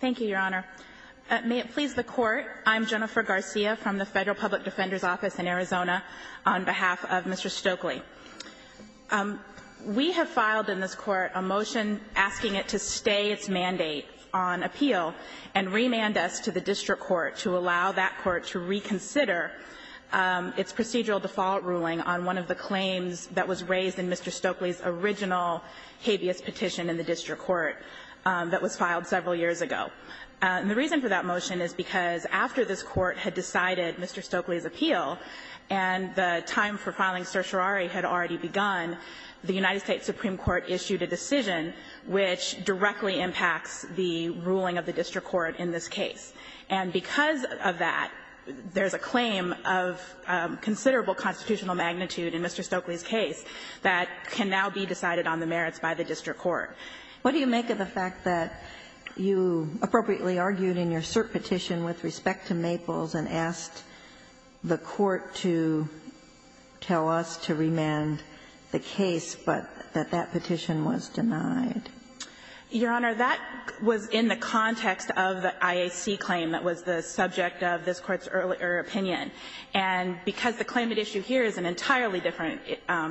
Thank you, Your Honor. May it please the Court, I'm Jennifer Garcia from the Federal Public Defender's Office in Arizona on behalf of Mr. Stokley. We have filed in this Court a motion asking it to stay its mandate on appeal and remand us to the District Court to allow that Court to reconsider its procedural default ruling on one of the claims that was raised in Mr. Stokley's original habeas petition in the District Court that was filed several years ago. And the reason for that motion is because after this Court had decided Mr. Stokley's appeal and the time for filing certiorari had already begun, the United States Supreme Court issued a decision which directly impacts the ruling of the District Court in this case. And because of that, there's a claim of considerable constitutional magnitude in Mr. Stokley's case that can now be decided on the merits by the District Court. What do you make of the fact that you appropriately argued in your cert petition with respect to Maples and asked the Court to tell us to remand the case, but that that petition was denied? Your Honor, that was in the context of the IAC claim that was the subject of this Court's earlier opinion. And because the claim at issue here is an entirely different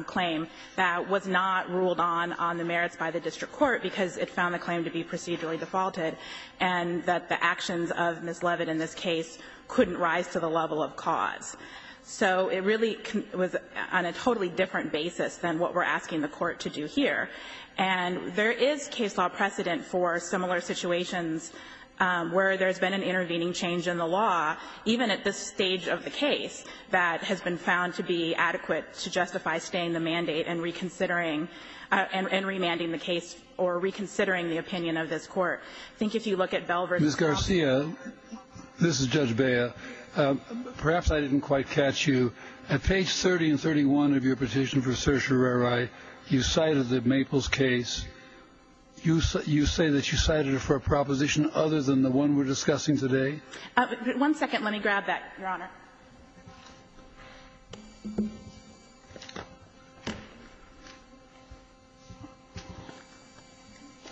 claim that was not ruled on on the merits by the District Court because it found the claim to be procedurally defaulted and that the actions of Ms. Leavitt in this case couldn't rise to the level of cause. So it really was on a totally different basis than what we're asking the Court to do here. And there is case law precedent for similar situations where there's been an intervening change in the law, even at this stage of the case, that has been found to be adequate to justify staying the mandate and reconsidering and remanding the case or reconsidering the opinion of this Court. I think if you look at Belvert and Stokley. Mr. Garcia, this is Judge Bea. Perhaps I didn't quite catch you. At page 30 and 31 of your petition for certiorari, you cited the Maples case. You say that you cited it for a proposition other than the one we're discussing today? One second. Let me grab that, Your Honor.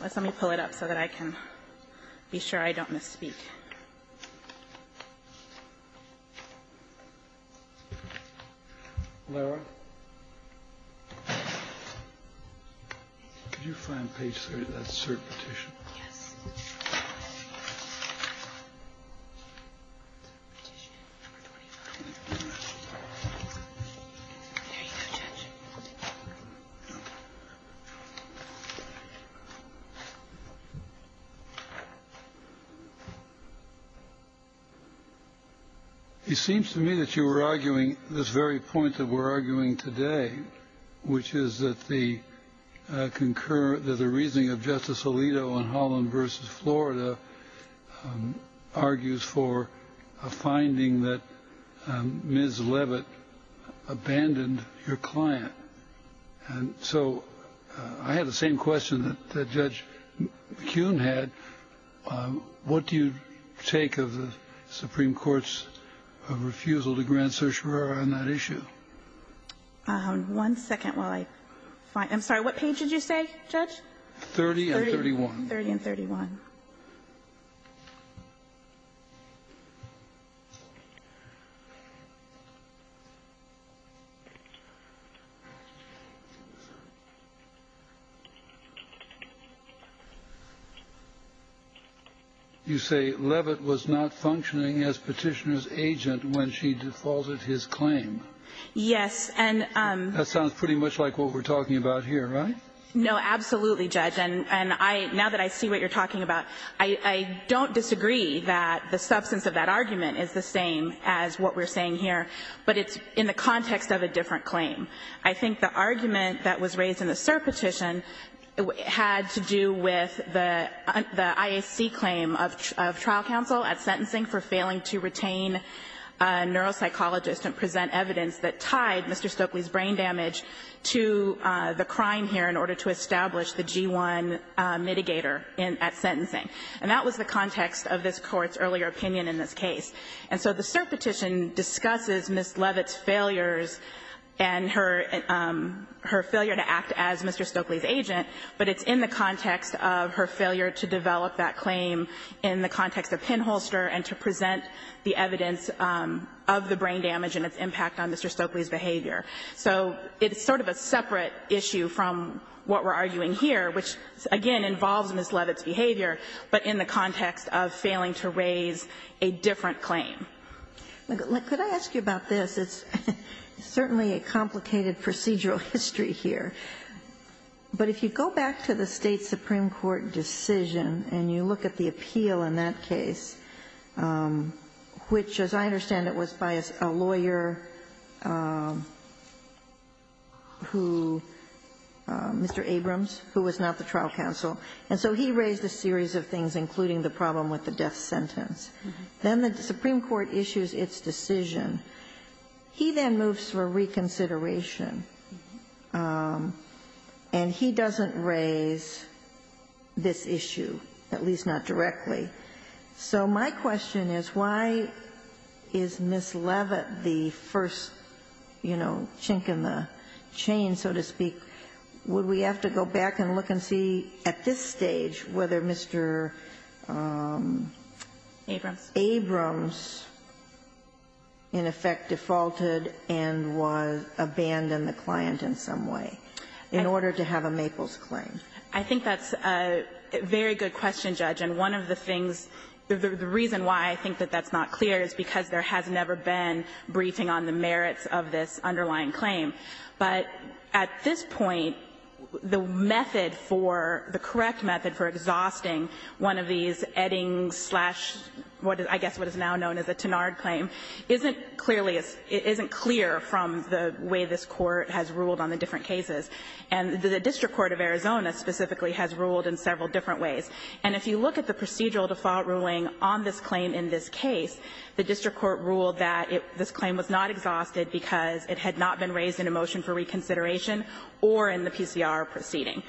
Let me pull it up so that I can be sure I don't misspeak. Could you find page 30 of that cert petition? Yes. There you go, Judge. It seems to me that you were arguing this very point that we're arguing today, which is that the reasoning of Justice Alito on Holland v. Florida argues for a finding that Ms. Leavitt abandoned your client. And so I had the same question that Judge Kuhn had. What do you take of the Supreme Court's refusal to grant certiorari on that issue? One second while I find it. I'm sorry. What page did you say, Judge? 30 and 31. 30 and 31. You say Leavitt was not functioning as Petitioner's agent when she defaulted his claim. Yes. That sounds pretty much like what we're talking about here, right? No, absolutely, Judge. And now that I see what you're talking about, I don't disagree that the substance of that argument is the same as what we're saying here, but it's in the context of a different claim. I think the argument that was raised in the cert petition had to do with the IAC claim of trial counsel at sentencing for failing to retain a neuropsychologist and present evidence that tied Mr. Stokely's brain damage to the crime here in order to establish the G-1 mitigator at sentencing. And that was the context of this Court's earlier opinion in this case. And so the cert petition discusses Ms. Leavitt's failures and her failure to act as Mr. Stokely's agent, but it's in the context of her failure to develop that claim in the context of pinholster and to present the evidence of the brain damage and its impact on Mr. Stokely's behavior. So it's sort of a separate issue from what we're arguing here, which again involves Ms. Leavitt's behavior, but in the context of failing to raise a different claim. Could I ask you about this? It's certainly a complicated procedural history here. But if you go back to the State supreme court decision and you look at the appeal in that case, which as I understand it was by a lawyer who, Mr. Abrams, who was not the trial counsel, and so he raised a series of things, including the problem with the death sentence, then the supreme court issues its decision. He then moves for reconsideration, and he doesn't raise this issue, at least not directly. So my question is, why is Ms. Leavitt the first, you know, chink in the chain, so to speak? Would we have to go back and look and see at this stage whether Mr. Abrams, you know, in effect defaulted and abandoned the client in some way in order to have a Maples claim? I think that's a very good question, Judge. And one of the things, the reason why I think that that's not clear is because there has never been briefing on the merits of this underlying claim. But at this point, the method for, the correct method for exhausting one of these now known as a Tenard claim isn't clearly, isn't clear from the way this Court has ruled on the different cases. And the district court of Arizona specifically has ruled in several different ways. And if you look at the procedural default ruling on this claim in this case, the district court ruled that this claim was not exhausted because it had not been raised in a motion for reconsideration or in the PCR proceeding.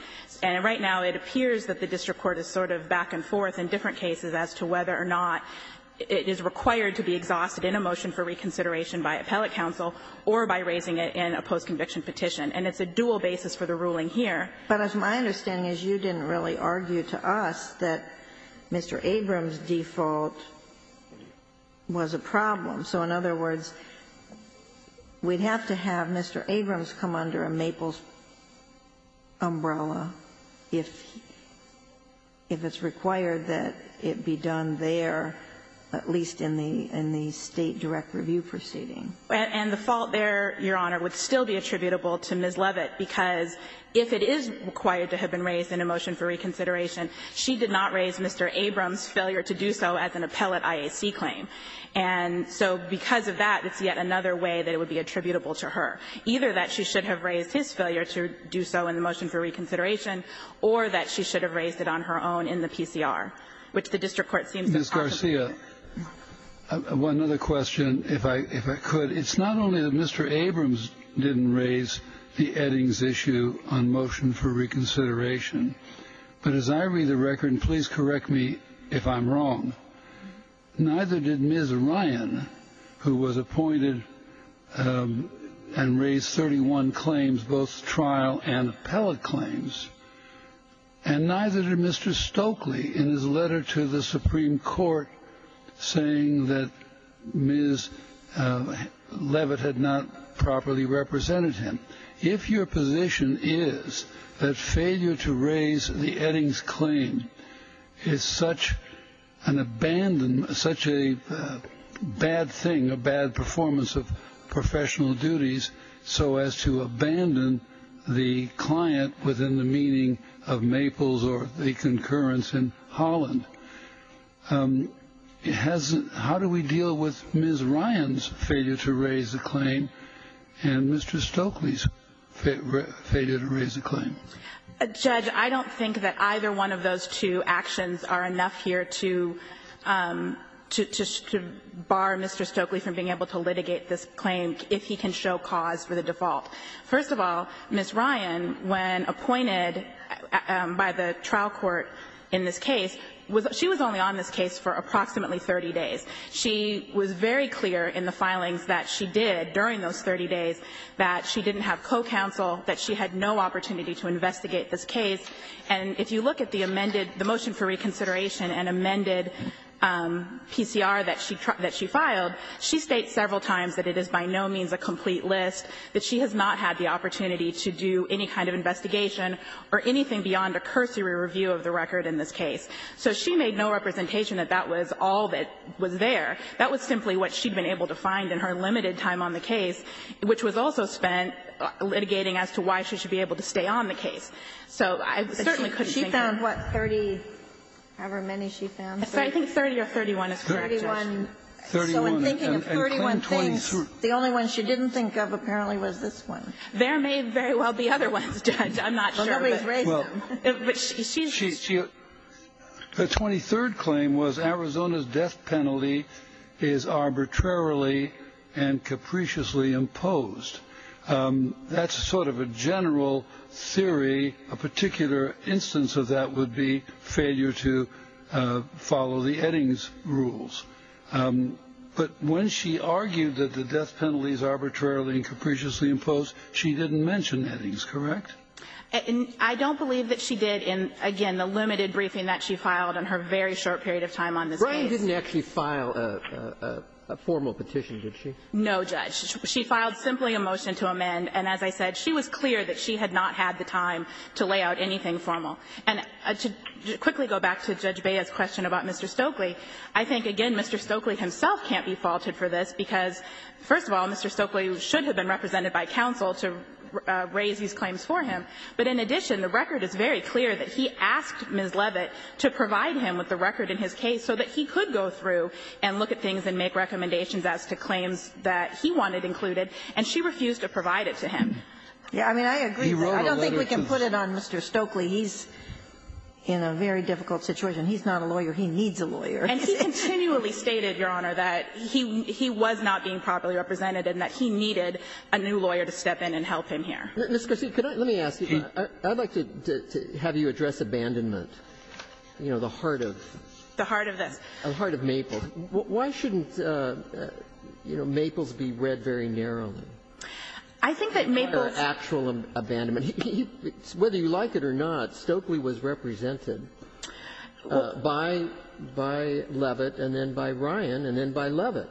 And right now, it appears that the district court is sort of back and forth in different cases as to whether or not it is required to be exhausted in a motion for reconsideration by appellate counsel or by raising it in a post-conviction petition. And it's a dual basis for the ruling here. But my understanding is you didn't really argue to us that Mr. Abrams' default was a problem. So in other words, we'd have to have Mr. Abrams come under a Maples umbrella if it's required that it be done there, at least in the State direct review proceeding. And the fault there, Your Honor, would still be attributable to Ms. Levitt, because if it is required to have been raised in a motion for reconsideration, she did not raise Mr. Abrams' failure to do so as an appellate IAC claim. And so because of that, it's yet another way that it would be attributable to her. Either that she should have raised his failure to do so in the motion for reconsideration or that she should have raised it on her own in the PCR, which the district court seems to possibly do. Ms. Garcia, one other question, if I could. It's not only that Mr. Abrams didn't raise the Eddings issue on motion for reconsideration, but as I read the record, and please correct me if I'm wrong, neither did Ms. Ryan, who was appointed and raised 31 claims, both trial and appellate claims, and neither did Mr. Stokely in his letter to the Supreme Court saying that Ms. Levitt had not properly represented him. If your position is that failure to raise the Eddings claim is such an abandonment, such a bad thing, a bad performance of professional duties, so as to abandon the client within the meaning of Maples or the concurrence in Holland, how do we deal with Ms. Ryan's failure to raise the claim and Mr. Stokely's failure to raise the claim? Garcia, I don't think that either one of those two actions are enough here to bar Mr. Stokely from being able to litigate this claim if he can show cause for the default. First of all, Ms. Ryan, when appointed by the trial court in this case, she was only on this case for approximately 30 days. She was very clear in the filings that she did during those 30 days that she didn't have co-counsel, that she had no opportunity to investigate this case. And if you look at the amended the motion for reconsideration and amended PCR that she filed, she states several times that it is by no means a complete list, that she has not had the opportunity to do any kind of investigation or anything beyond a cursory review of the record in this case. So she made no representation that that was all that was there. That was simply what she'd been able to find in her limited time on the case, which was also spent litigating as to why she should be able to stay on the case. So I certainly couldn't think of her. She found, what, 30? However many she found. I think 30 or 31 is correct. 31. 31. And claim 23. The only one she didn't think of apparently was this one. There may very well be other ones, Judge. I'm not sure. Well, nobody's raised them. But she's just. The 23rd claim was Arizona's death penalty is arbitrarily and capriciously imposed. That's sort of a general theory. A particular instance of that would be failure to follow the Eddings rules. But when she argued that the death penalty is arbitrarily and capriciously imposed, she didn't mention Eddings, correct? I don't believe that she did in, again, the limited briefing that she filed in her very short period of time on this case. Breyer didn't actually file a formal petition, did she? No, Judge. She filed simply a motion to amend. And as I said, she was clear that she had not had the time to lay out anything formal. And to quickly go back to Judge Bea's question about Mr. Stokely, I think, again, Mr. Stokely himself can't be faulted for this, because, first of all, Mr. Stokely should have been represented by counsel to raise these claims for him. But in addition, the record is very clear that he asked Ms. Levitt to provide him with the record in his case so that he could go through and look at things and make recommendations as to claims that he wanted included, and she refused to provide it to him. I mean, I agree. I don't think we can put it on Mr. Stokely. He's in a very difficult situation. He's not a lawyer. He needs a lawyer. And he continually stated, Your Honor, that he was not being properly represented and that he needed a new lawyer to step in and help him here. Ms. Garcia, let me ask you. I'd like to have you address abandonment, you know, the heart of this. The heart of this. The heart of Maples. Why shouldn't, you know, Maples be read very narrowly? I think that Maples' actual abandonment, whether you like it or not, Stokely was represented by Levitt and then by Ryan and then by Levitt.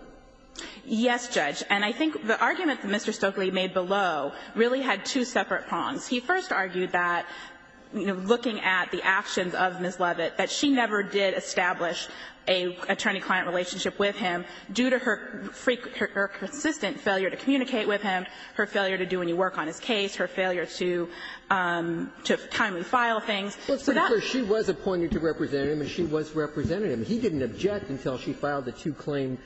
Yes, Judge. And I think the argument that Mr. Stokely made below really had two separate prongs. He first argued that, you know, looking at the actions of Ms. Levitt, that she never did establish an attorney-client relationship with him due to her consistent failure to communicate with him, her failure to do any work on his case, her failure to timely file things. So that's where she was appointed to representative and she was representative. He didn't object until she filed the two-claim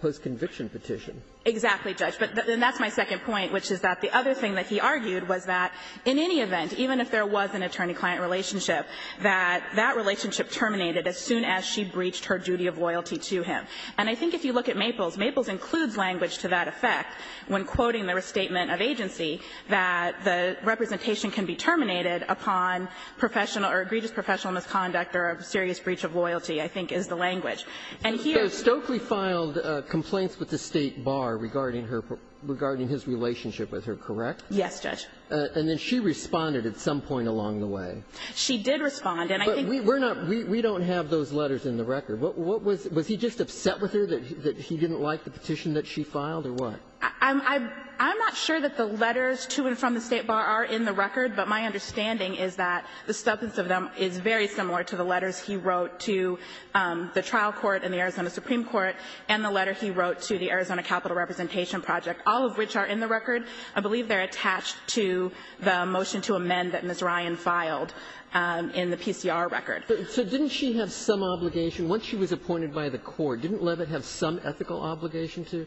post-conviction petition. Exactly, Judge. And that's my second point, which is that the other thing that he argued was that in any event, even if there was an attorney-client relationship, that that relationship was terminated as soon as she breached her duty of loyalty to him. And I think if you look at Maples, Maples includes language to that effect when quoting the restatement of agency, that the representation can be terminated upon professional or egregious professional misconduct or a serious breach of loyalty, I think, is the language. And here Stokely filed complaints with the State Bar regarding her per ---- regarding his relationship with her, correct? Yes, Judge. And then she responded at some point along the way. She did respond. But we're not ---- we don't have those letters in the record. What was ---- was he just upset with her, that he didn't like the petition that she filed, or what? I'm not sure that the letters to and from the State Bar are in the record, but my understanding is that the substance of them is very similar to the letters he wrote to the trial court and the Arizona Supreme Court and the letter he wrote to the Arizona Capital Representation Project, all of which are in the record. I believe they're attached to the motion to amend that Ms. Ryan filed in the PCR record. So didn't she have some obligation, once she was appointed by the court, didn't Levitt have some ethical obligation to,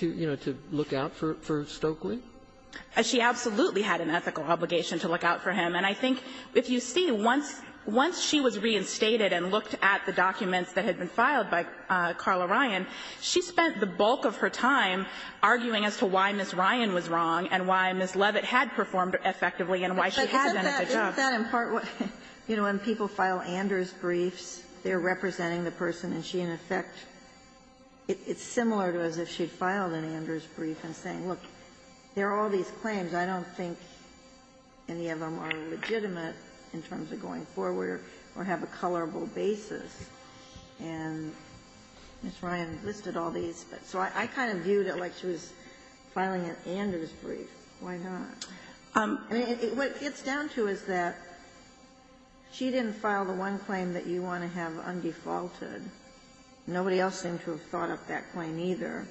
you know, to look out for Stokely? She absolutely had an ethical obligation to look out for him. And I think if you see, once she was reinstated and looked at the documents that had been filed by Carla Ryan, she spent the bulk of her time arguing as to why Ms. Ryan was wrong and why Ms. Levitt had performed effectively and why she had done a good job. Ginsburg. But isn't that in part what ---- you know, when people file Anders briefs, they're representing the person, and she, in effect, it's similar to as if she'd filed an Anders brief and saying, look, there are all these claims. I don't think any of them are legitimate in terms of going forward or have a colorable basis. And Ms. Ryan listed all these. But so I kind of viewed it like she was filing an Anders brief. Why not? I mean, what it gets down to is that she didn't file the one claim that you want to have undefaulted. Nobody else seemed to have thought up that claim, either.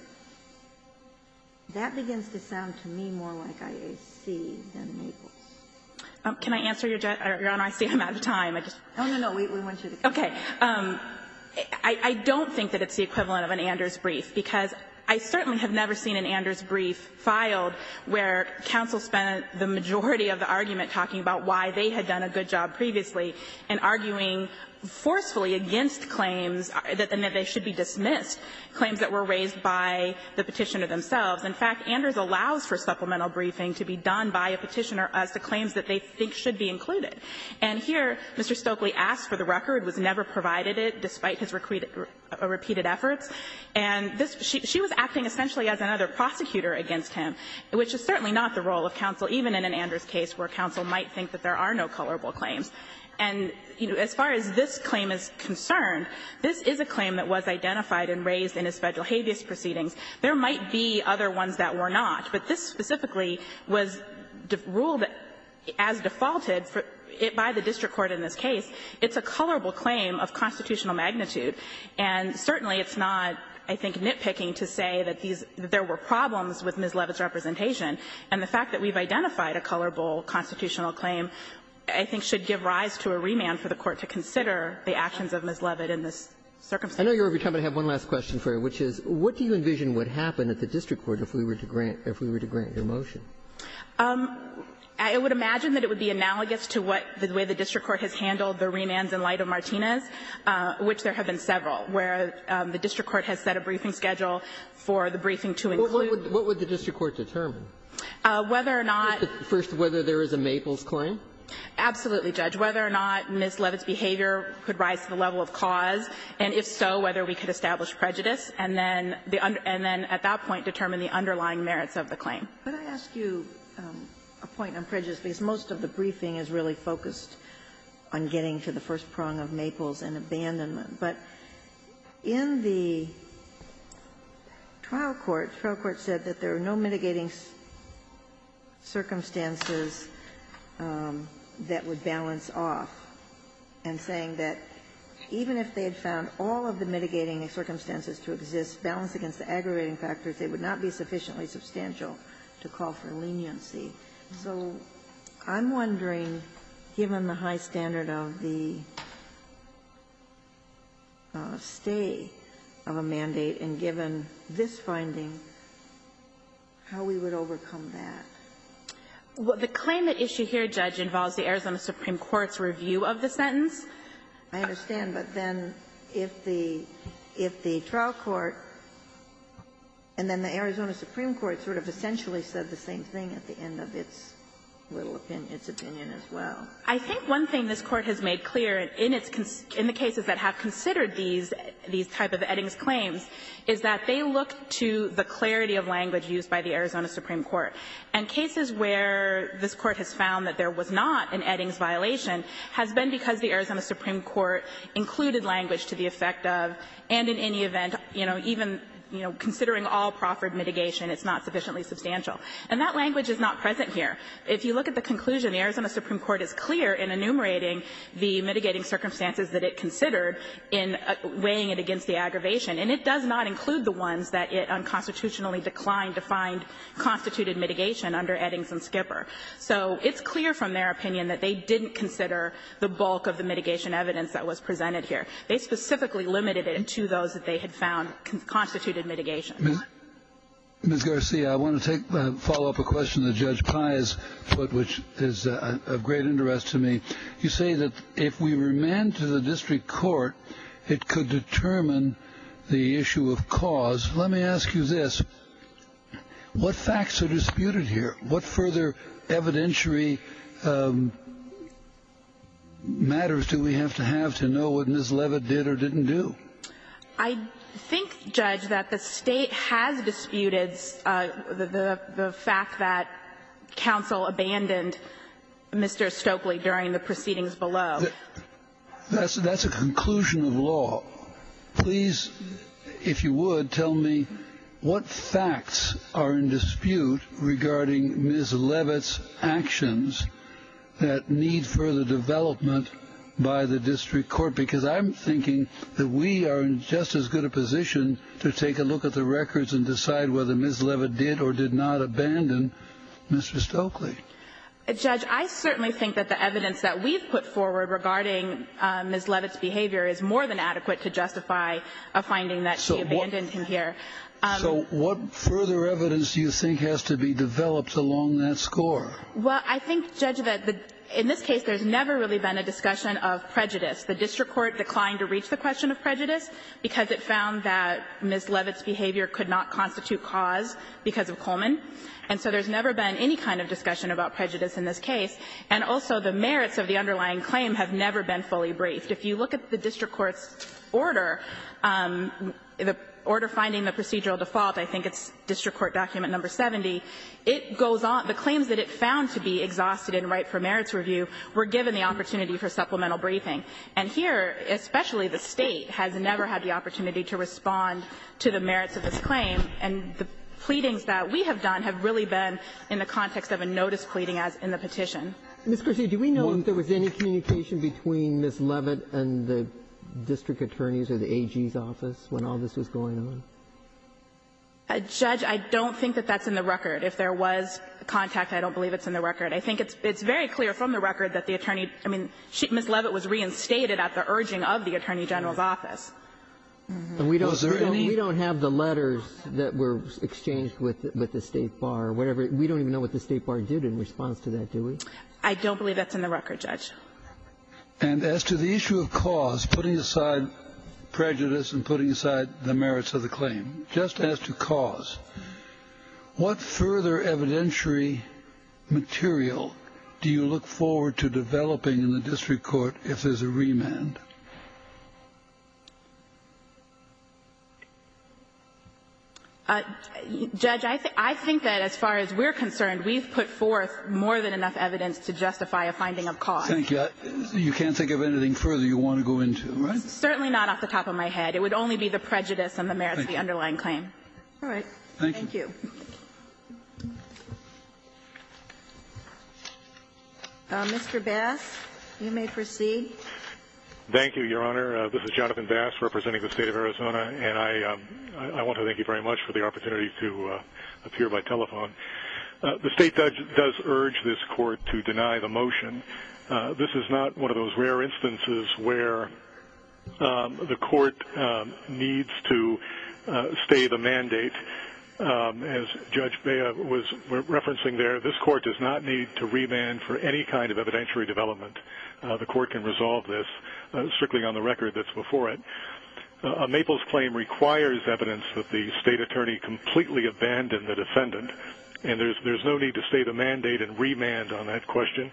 That begins to sound to me more like IAC than Mabel's. Can I answer your question? Your Honor, I see I'm out of time. I just ---- No, no, no. We want you to continue. Okay. I don't think that it's the equivalent of an Anders brief, because I certainly have never seen an Anders brief filed where counsel spent the majority of the argument talking about why they had done a good job previously and arguing forcefully against claims that they should be dismissed, claims that were raised by the Petitioner themselves. In fact, Anders allows for supplemental briefing to be done by a Petitioner as to claims that they think should be included. And here, Mr. Stokely asked for the record, was never provided it, despite his repeated efforts. And this ---- she was acting essentially as another prosecutor against him, which is certainly not the role of counsel, even in an Anders case where counsel might think that there are no colorable claims. And, you know, as far as this claim is concerned, this is a claim that was identified and raised in his Federal habeas proceedings. There might be other ones that were not, but this specifically was ruled as defaulted by the district court in this case. It's a colorable claim of constitutional magnitude, and certainly it's not, I think, nitpicking to say that these ---- that there were problems with Ms. Leavitt's representation. And the fact that we've identified a colorable constitutional claim, I think, should give rise to a remand for the Court to consider the actions of Ms. Leavitt in this circumstance. I know you're over time, but I have one last question for you, which is, what do you envision would happen at the district court if we were to grant ---- if we were to grant your motion? I would imagine that it would be analogous to what the way the district court has handled the remands in light of Martinez, which there have been several, where the district court has set a briefing schedule for the briefing to include. What would the district court determine? Whether or not ---- First, whether there is a Maples claim? Absolutely, Judge. Whether or not Ms. Leavitt's behavior could rise to the level of cause, and if so, whether we could establish prejudice, and then the under ---- and then at that point determine the underlying merits of the claim. Could I ask you a point on prejudice? Because most of the briefing is really focused on getting to the first prong of Maples and abandonment. But in the trial court, the trial court said that there are no mitigating circumstances that would balance off, and saying that even if they had found all of the mitigating circumstances to exist, balanced against the aggravating factors, it would not be sufficiently substantial to call for leniency. So I'm wondering, given the high standard of the stay of a mandate, and given this finding, how we would overcome that? Well, the claim at issue here, Judge, involves the Arizona Supreme Court's review of the sentence. I understand, but then if the trial court and then the Arizona Supreme Court sort of essentially said the same thing at the end of its little opinion, its opinion as well. I think one thing this Court has made clear in its ---- in the cases that have considered these type of Eddings claims is that they look to the clarity of language used by the Arizona Supreme Court. And cases where this Court has found that there was not an Eddings violation has been because the Arizona Supreme Court included language to the effect of, and in any event, you know, even considering all proffered mitigation, it's not sufficiently substantial. And that language is not present here. If you look at the conclusion, the Arizona Supreme Court is clear in enumerating the mitigating circumstances that it considered in weighing it against the aggravation, and it does not include the ones that it unconstitutionally declined to find constituted mitigation under Eddings and Skipper. So it's clear from their opinion that they didn't consider the bulk of the mitigation evidence that was presented here. They specifically limited it to those that they had found constituted mitigation. Kennedy. Kennedy. Ms. Garcia, I want to take a follow-up question that Judge Pai has put, which is of great interest to me. You say that if we remand to the district court, it could determine the issue of cause. Let me ask you this. What facts are disputed here? What further evidentiary matters do we have to have to know what Ms. Leavitt did or didn't do? I think, Judge, that the State has disputed the fact that counsel abandoned Mr. Stokely during the proceedings below. That's a conclusion of law. Please, if you would, tell me what facts are in dispute regarding Ms. Leavitt's actions that need further development by the district court? Because I'm thinking that we are in just as good a position to take a look at the records and decide whether Ms. Leavitt did or did not abandon Mr. Stokely. Judge, I certainly think that the evidence that we've put forward regarding Ms. Leavitt's behavior is more than adequate to justify a finding that she abandoned him here. So what further evidence do you think has to be developed along that score? Well, I think, Judge, that in this case there's never really been a discussion of prejudice. The district court declined to reach the question of prejudice because it found that Ms. Leavitt's behavior could not constitute cause because of Coleman. And so there's never been any kind of discussion about prejudice in this case. And also the merits of the underlying claim have never been fully briefed. If you look at the district court's order, the order finding the procedural default, I think it's district court document No. 70, it goes on the claims that it found to be exhausted in right for merits review were given the opportunity for supplemental briefing. And here, especially the State, has never had the opportunity to respond to the merits of this claim, and the pleadings that we have done have really been in the context of a notice pleading as in the petition. Ms. Garcia, do we know if there was any communication between Ms. Leavitt and the district attorneys or the AG's office when all this was going on? Judge, I don't think that that's in the record. If there was contact, I don't believe it's in the record. I think it's very clear from the record that the attorney – I mean, Ms. Leavitt was reinstated at the urging of the attorney general's office. And we don't have the letters that were exchanged with the State bar or whatever – we don't even know what the State bar did in response to that, do we? I don't believe that's in the record, Judge. And as to the issue of cause, putting aside prejudice and putting aside the merits of the claim, just as to cause, what further evidentiary material do you look forward to developing in the district court if there's a remand? Judge, I think that as far as we're concerned, we've put forth more than enough evidence to justify a finding of cause. Thank you. You can't think of anything further you want to go into, right? Certainly not off the top of my head. It would only be the prejudice and the merits of the underlying claim. All right. Thank you. Thank you. Mr. Bass, you may proceed. Thank you, Your Honor. This is Jonathan Bass representing the State of Arizona, and I want to thank you very much for the opportunity to appear by telephone. The State does urge this court to deny the motion. This is not one of those rare instances where the court needs to stay the mandate. As Judge Bea was referencing there, this court does not need to remand for any kind of evidentiary development. The court can resolve this strictly on the record that's before it. A Maples claim requires evidence that the state attorney completely abandoned the defendant, and there's no need to stay the mandate and remand on that question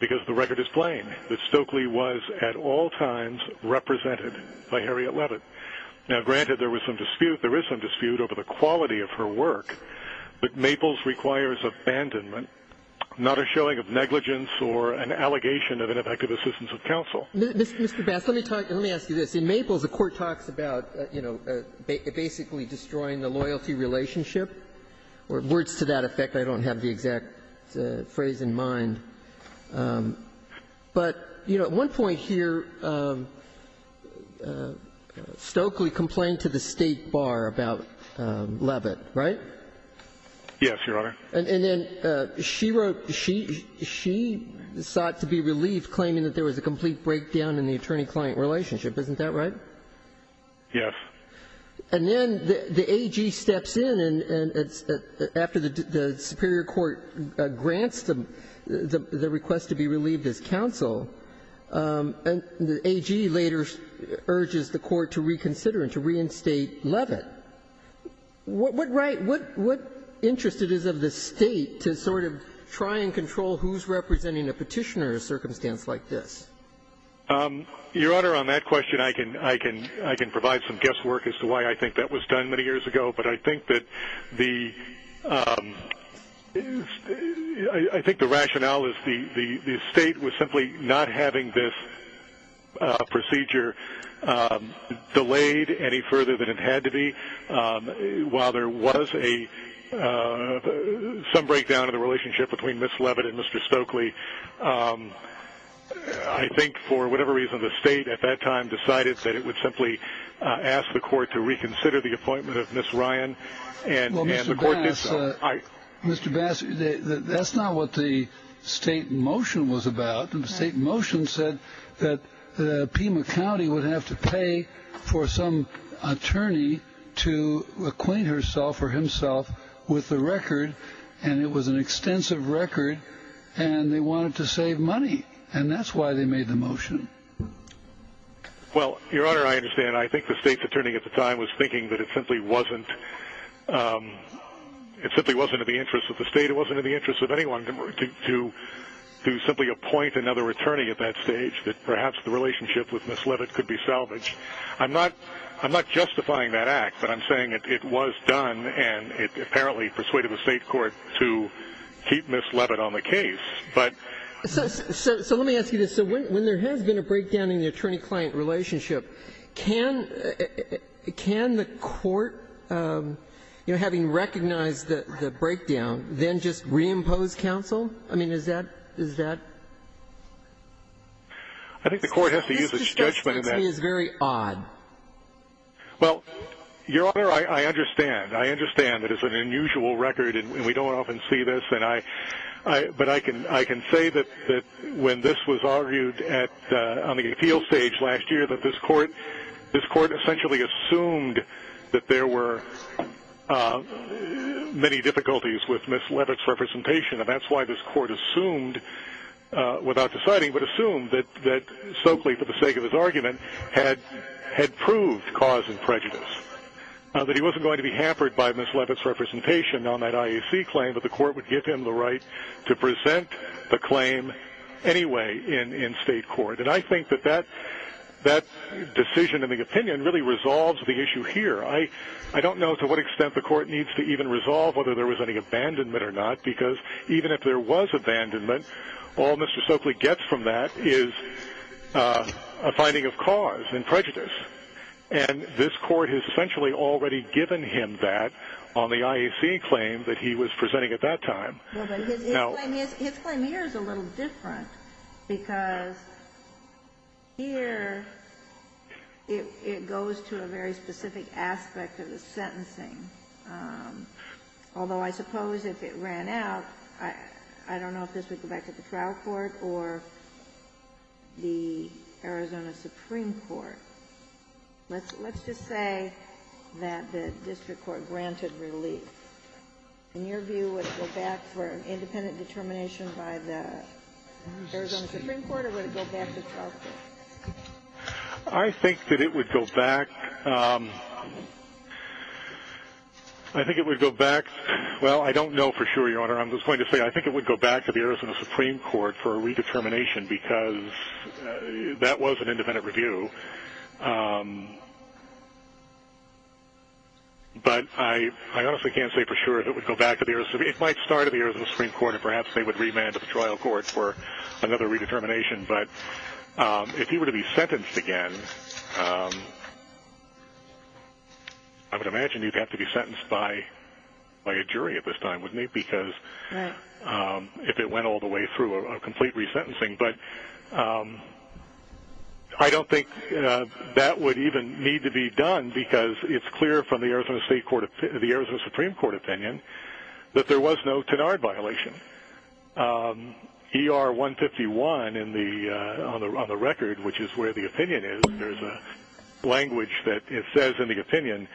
because the record is plain that Stokely was at all times represented by Harriet Leavitt. Now, granted, there is some dispute over the quality of her work, but Maples requires abandonment, not a showing of negligence or an allegation of ineffective assistance of counsel. Mr. Bass, let me ask you this. In Maples, the court talks about, you know, basically destroying the loyalty relationship. Words to that effect, I don't have the exact phrase in mind. But, you know, at one point here, Stokely complained to the State Bar about Leavitt, right? Yes, Your Honor. And then she wrote she sought to be relieved, claiming that there was a complete breakdown in the attorney-client relationship. Isn't that right? Yes. And then the AG steps in, and after the superior court grants the request to be relieved as counsel, and the AG later urges the court to reconsider and to reinstate Leavitt. What right, what interest it is of the State to sort of try and control who's representing a petitioner in a circumstance like this? Your Honor, on that question, I can provide some guesswork as to why I think that was done many years ago, but I think that the rationale is the State was simply not having this procedure delayed any further than it had to be. While there was some breakdown in the relationship between Ms. Leavitt and Mr. Stokely, I think for whatever reason, the State at that time decided that it would simply ask the court to reconsider the appointment of Ms. Ryan, and the court did so. Well, Mr. Bass, that's not what the State motion was about. The State motion said that Pima County would have to pay for some attorney to acquaint herself or himself with the record, and it was an extensive record, and they wanted to save money, and that's why they made the motion. Well, Your Honor, I understand. I think the State's attorney at the time was thinking that it simply wasn't in the interest of the State, it wasn't in the interest of anyone to simply appoint another attorney at that stage, that perhaps the relationship with Ms. Leavitt could be salvaged. I'm not justifying that act, but I'm saying it was done, and it apparently persuaded the State court to keep Ms. Leavitt on the case. So let me ask you this. When there has been a breakdown in the attorney-client relationship, can the court, having recognized the breakdown, then just reimpose counsel? I mean, is that... I think the court has to use its judgment in that. This just seems very odd. Well, Your Honor, I understand. I understand that it's an unusual record, and we don't often see this, but I can say that when this was argued on the appeal stage last year, that this court essentially assumed that there were many difficulties with Ms. Leavitt's representation, and that's why this court assumed, without deciding, but assumed that Stokely, for the sake of his argument, had proved cause and prejudice, that he wasn't going to be hampered by Ms. Leavitt's representation on that IAC claim, that the court would give him the right to present the claim anyway in State court. And I think that that decision and the opinion really resolves the issue here. I don't know to what extent the court needs to even resolve whether there was any abandonment or not, because even if there was abandonment, all Mr. Stokely gets from that is a finding of cause and prejudice. And this court has essentially already given him that on the IAC claim that he was presenting at that time. No. No. His claim here is a little different, because here it goes to a very specific aspect of the sentencing, although I suppose if it ran out, I don't know if this would go back to the trial court or the Arizona Supreme Court. Let's just say that the district court granted relief. In your view, would it go back for an independent determination by the Arizona Supreme Court or would it go back to trial court? I think that it would go back. I think it would go back. Well, I don't know for sure, Your Honor. I'm just going to say I think it would go back to the Arizona Supreme Court for a redetermination, because that was an independent review. But I honestly can't say for sure if it would go back to the Arizona Supreme Court. It might start at the Arizona Supreme Court, and perhaps they would remand it to the trial court for another redetermination. But if he were to be sentenced again, I would imagine he'd have to be sentenced by a jury at this time, wouldn't he, because if it went all the way through a complete resentencing. But I don't think that would even need to be done, because it's clear from the Arizona Supreme Court opinion that there was no Tenard violation. ER 151 on the record, which is where the opinion is, there's a language that it says in the opinion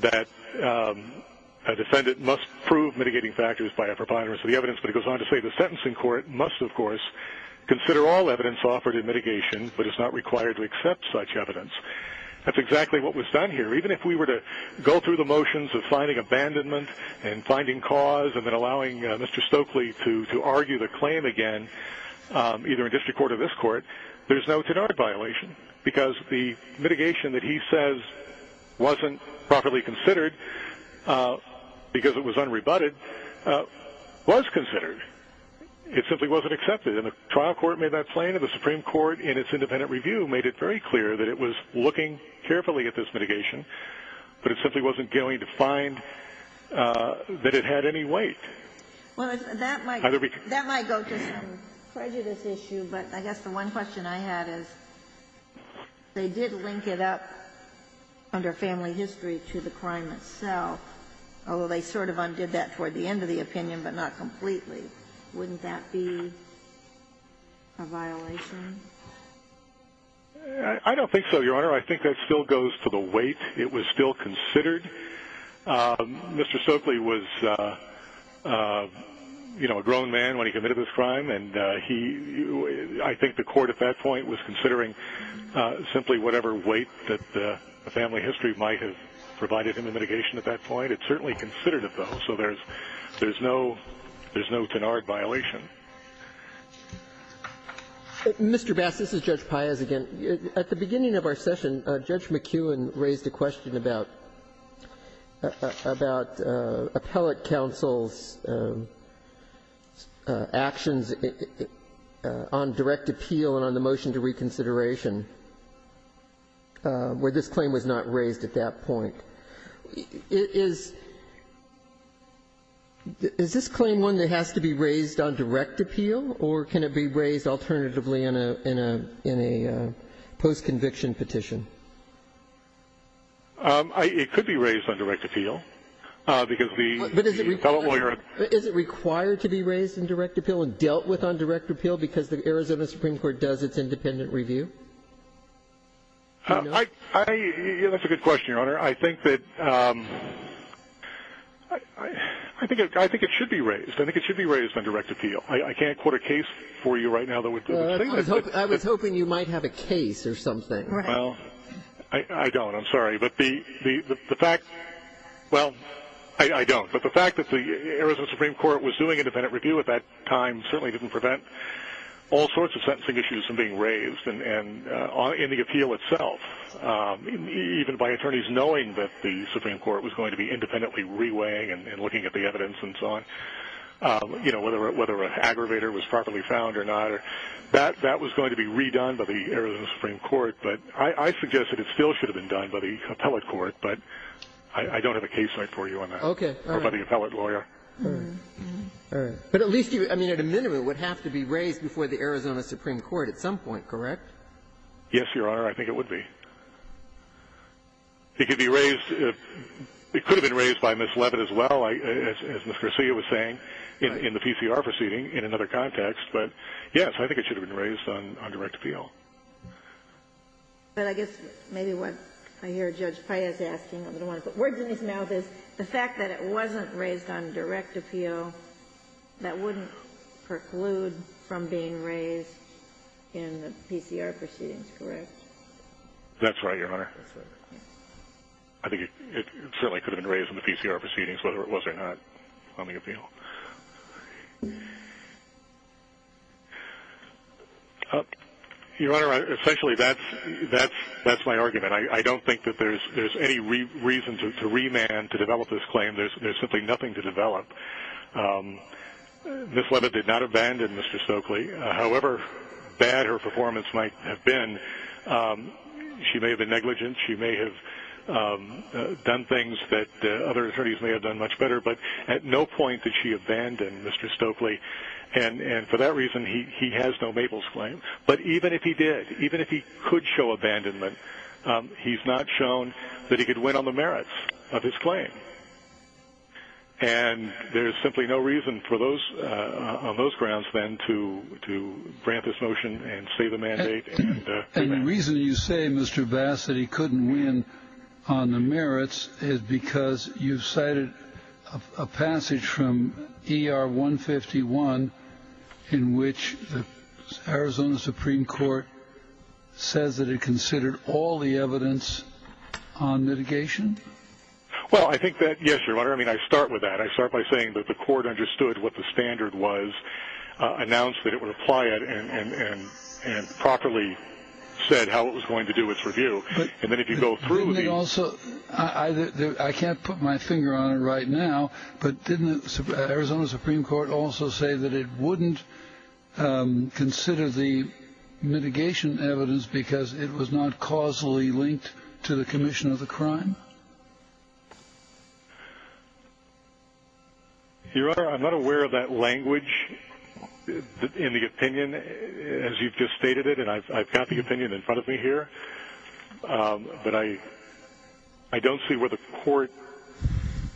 that a defendant must prove mitigating factors by a preponderance of the evidence. But it goes on to say the sentencing court must, of course, consider all evidence offered in mitigation, but it's not required to accept such evidence. That's exactly what was done here. Even if we were to go through the motions of finding abandonment and finding cause and then allowing Mr. Stokely to argue the claim again, either in district court or this court, there's no Tenard violation, because the mitigation that he says wasn't properly considered because it was unrebutted, was considered. It simply wasn't accepted. And the trial court made that claim, and the Supreme Court in its independent review made it very clear that it was looking carefully at this mitigation, but it simply wasn't going to find that it had any weight. Well, that might go to some prejudice issue, but I guess the one question I had is, they did link it up under family history to the crime itself, although they sort of undid that toward the end of the opinion, but not completely. Wouldn't that be a violation? I don't think so, Your Honor. I think that still goes to the weight. It was still considered. Mr. Stokely was, you know, a grown man when he committed this crime, and he – I think the court at that point was considering simply whatever weight that the family history might have provided him in mitigation at that point. It's certainly considered, though, so there's no Tenard violation. Mr. Bass, this is Judge Paez again. At the beginning of our session, Judge McKeown raised a question about appellate counsel's actions on direct appeal and on the motion to reconsideration, where this claim was not raised at that point. Is this claim one that has to be raised on direct appeal, or can it be raised alternatively in a post-conviction petition? It could be raised on direct appeal, because the – But is it required to be raised on direct appeal and dealt with on direct appeal because the Arizona Supreme Court does its independent review? I – that's a good question, Your Honor. I think that – I think it should be raised. I think it should be raised on direct appeal. I can't quote a case for you right now that would – I was hoping you might have a case or something. Right. Well, I don't. I'm sorry. But the fact – well, I don't. But the fact that the Arizona Supreme Court was doing independent review at that time certainly didn't prevent all sorts of sentencing issues from being raised, and on – in the appeal itself, even by attorneys knowing that the Supreme Court was going to be independently reweighing and looking at the evidence and so on, you know, whether an aggravator was properly found or not. That was going to be redone by the Arizona Supreme Court, but I suggest that it still should have been done by the appellate court, but I don't have a case for you on that. Okay. All right. Or by the appellate lawyer. All right. All right. But at least you – I mean, at a minimum, it would have to be raised before the Arizona Supreme Court at some point, correct? Yes, Your Honor, I think it would be. It could be raised – it could have been raised by Ms. Leavitt as well, as Ms. Garcia was saying, in the PCR proceeding, in another context, but yes, I think it should have been raised on direct appeal. But I guess maybe what I hear Judge Paez asking, I don't want to put words in his mouth, is the fact that it wasn't raised on direct appeal, that wouldn't preclude from being raised in the PCR proceedings, correct? That's right, Your Honor. That's right. Yes. I think it certainly could have been raised in the PCR proceedings, whether it was or not, on the appeal. Your Honor, essentially, that's my argument. I don't think that there's any reason to remand, to develop this claim. There's simply nothing to develop. Ms. Leavitt did not abandon Mr. Stokely. However bad her performance might have been, she may have been negligent, she may have done things that other attorneys may have done much better, but at no point did she abandon Mr. Stokely. And for that reason, he has no Mabel's claim. But even if he did, even if he could show abandonment, he's not shown that he could win on the merits of his claim. And there's simply no reason for those, on those grounds then, to grant this motion and say the mandate and remand. The only reason you say, Mr. Bass, that he couldn't win on the merits is because you've cited a passage from ER 151, in which the Arizona Supreme Court says that it considered all the evidence on mitigation? Well, I think that, yes, Your Honor, I mean, I start with that. I start by saying that the court understood what the standard was, announced that it would apply it, and properly said how it was going to do its review. And then if you go through the... I can't put my finger on it right now, but didn't the Arizona Supreme Court also say that it wouldn't consider the mitigation evidence because it was not causally linked to the commission of the crime? Your Honor, I'm not aware of that language in the opinion as you've just stated it. And I've got the opinion in front of me here. But I don't see where the court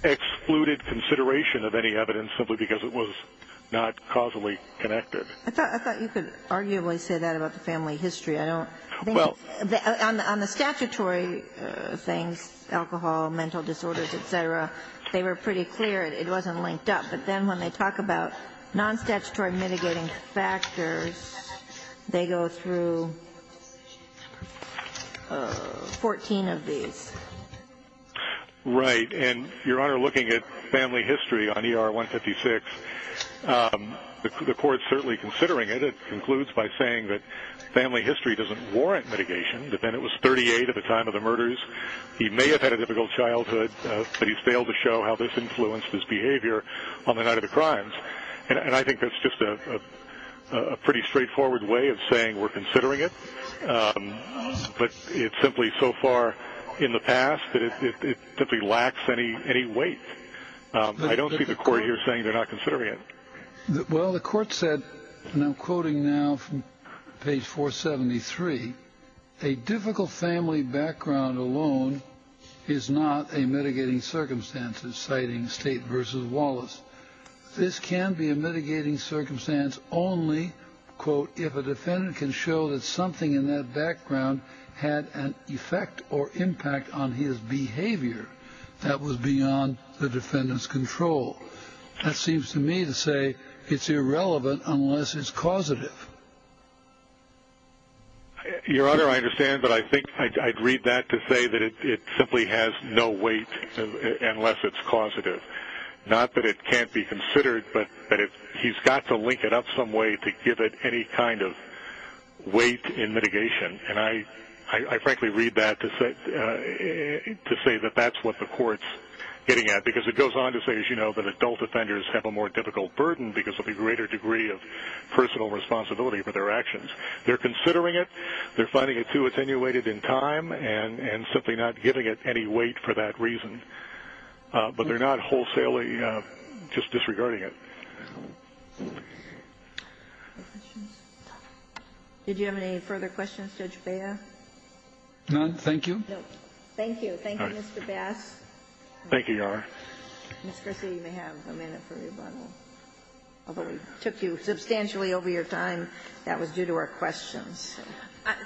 excluded consideration of any evidence simply because it was not causally connected. I thought you could arguably say that about the family history. I don't think... Alcohol, mental disorders, et cetera, they were pretty clear it wasn't linked up. But then when they talk about non-statutory mitigating factors, they go through 14 of these. Right. And, Your Honor, looking at family history on ER 156, the court's certainly considering it. It concludes by saying that family history doesn't warrant mitigation, that then it was 38 at the time of the murders. He may have had a difficult childhood, but he's failed to show how this influenced his behavior on the night of the crimes. And I think that's just a pretty straightforward way of saying we're considering it. But it's simply so far in the past that it simply lacks any weight. I don't see the court here saying they're not considering it. Well, the court said, and I'm quoting now from page 473, a difficult family background alone is not a mitigating circumstance, citing State v. Wallace. This can be a mitigating circumstance only, quote, if a defendant can show that something in that background had an effect or impact on his behavior that was beyond the defendant's control. That seems to me to say it's irrelevant unless it's causative. Your Honor, I understand, but I think I'd read that to say that it simply has no weight unless it's causative. Not that it can't be considered, but that he's got to link it up some way to give it any kind of weight in mitigation. And I frankly read that to say that that's what the court's getting at, because it goes on to say, as you know, that adult offenders have a more difficult burden because of a greater degree of personal responsibility for their actions. They're considering it. They're finding it too attenuated in time and simply not giving it any weight for that reason. But they're not wholesalely just disregarding it. Any questions? Did you have any further questions, Judge Bea? None. Thank you. No. Thank you. Thank you, Mr. Bass. Thank you, Your Honor. Ms. Griswold, you may have a minute for rebuttal. Although we took you substantially over your time, that was due to our questions.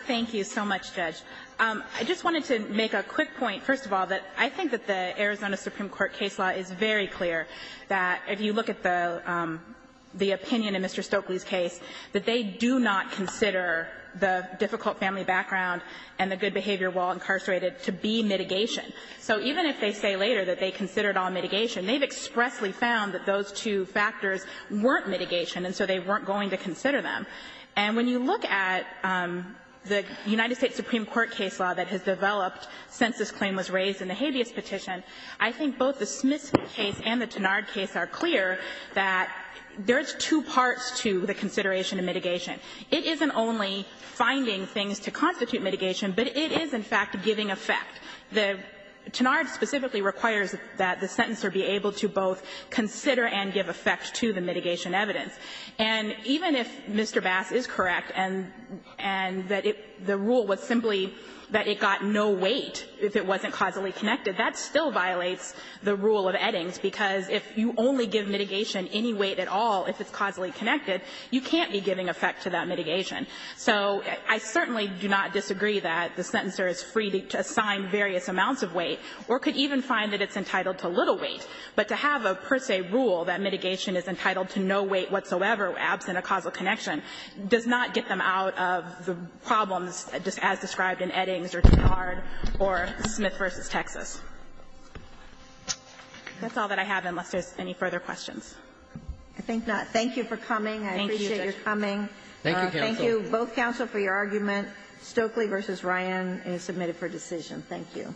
Thank you so much, Judge. I just wanted to make a quick point, first of all, that I think that the Arizona Supreme Court case law is very clear that if you look at the opinion in Mr. Stokely's case, that they do not consider the difficult family background and the good behavior while incarcerated to be mitigation. So even if they say later that they considered all mitigation, they've expressly found that those two factors weren't mitigation, and so they weren't going to consider them. And when you look at the United States Supreme Court case law that has developed since this claim was raised in the habeas petition, I think both the Smith case and the Tenard case are clear that there's two parts to the consideration of mitigation. It isn't only finding things to constitute mitigation, but it is, in fact, giving effect. The Tenard specifically requires that the sentencer be able to both consider and give effect to the mitigation evidence. And even if Mr. Bass is correct and that the rule was simply that it got no weight if it wasn't causally connected, that still violates the rule of Eddings, because if you only give mitigation any weight at all if it's causally connected, you can't be giving effect to that mitigation. So I certainly do not disagree that the sentencer is free to assign various amounts of weight or could even find that it's entitled to little weight. But to have a per se rule that mitigation is entitled to no weight whatsoever absent a causal connection does not get them out of the problems as described in Eddings or Tenard or Smith v. Texas. That's all that I have unless there's any further questions. I think not. Thank you for coming. Thank you, Judge. I appreciate your coming. Thank you, counsel. Thank you, both counsel, for your argument. Stokely v. Ryan is submitted for decision. Thank you.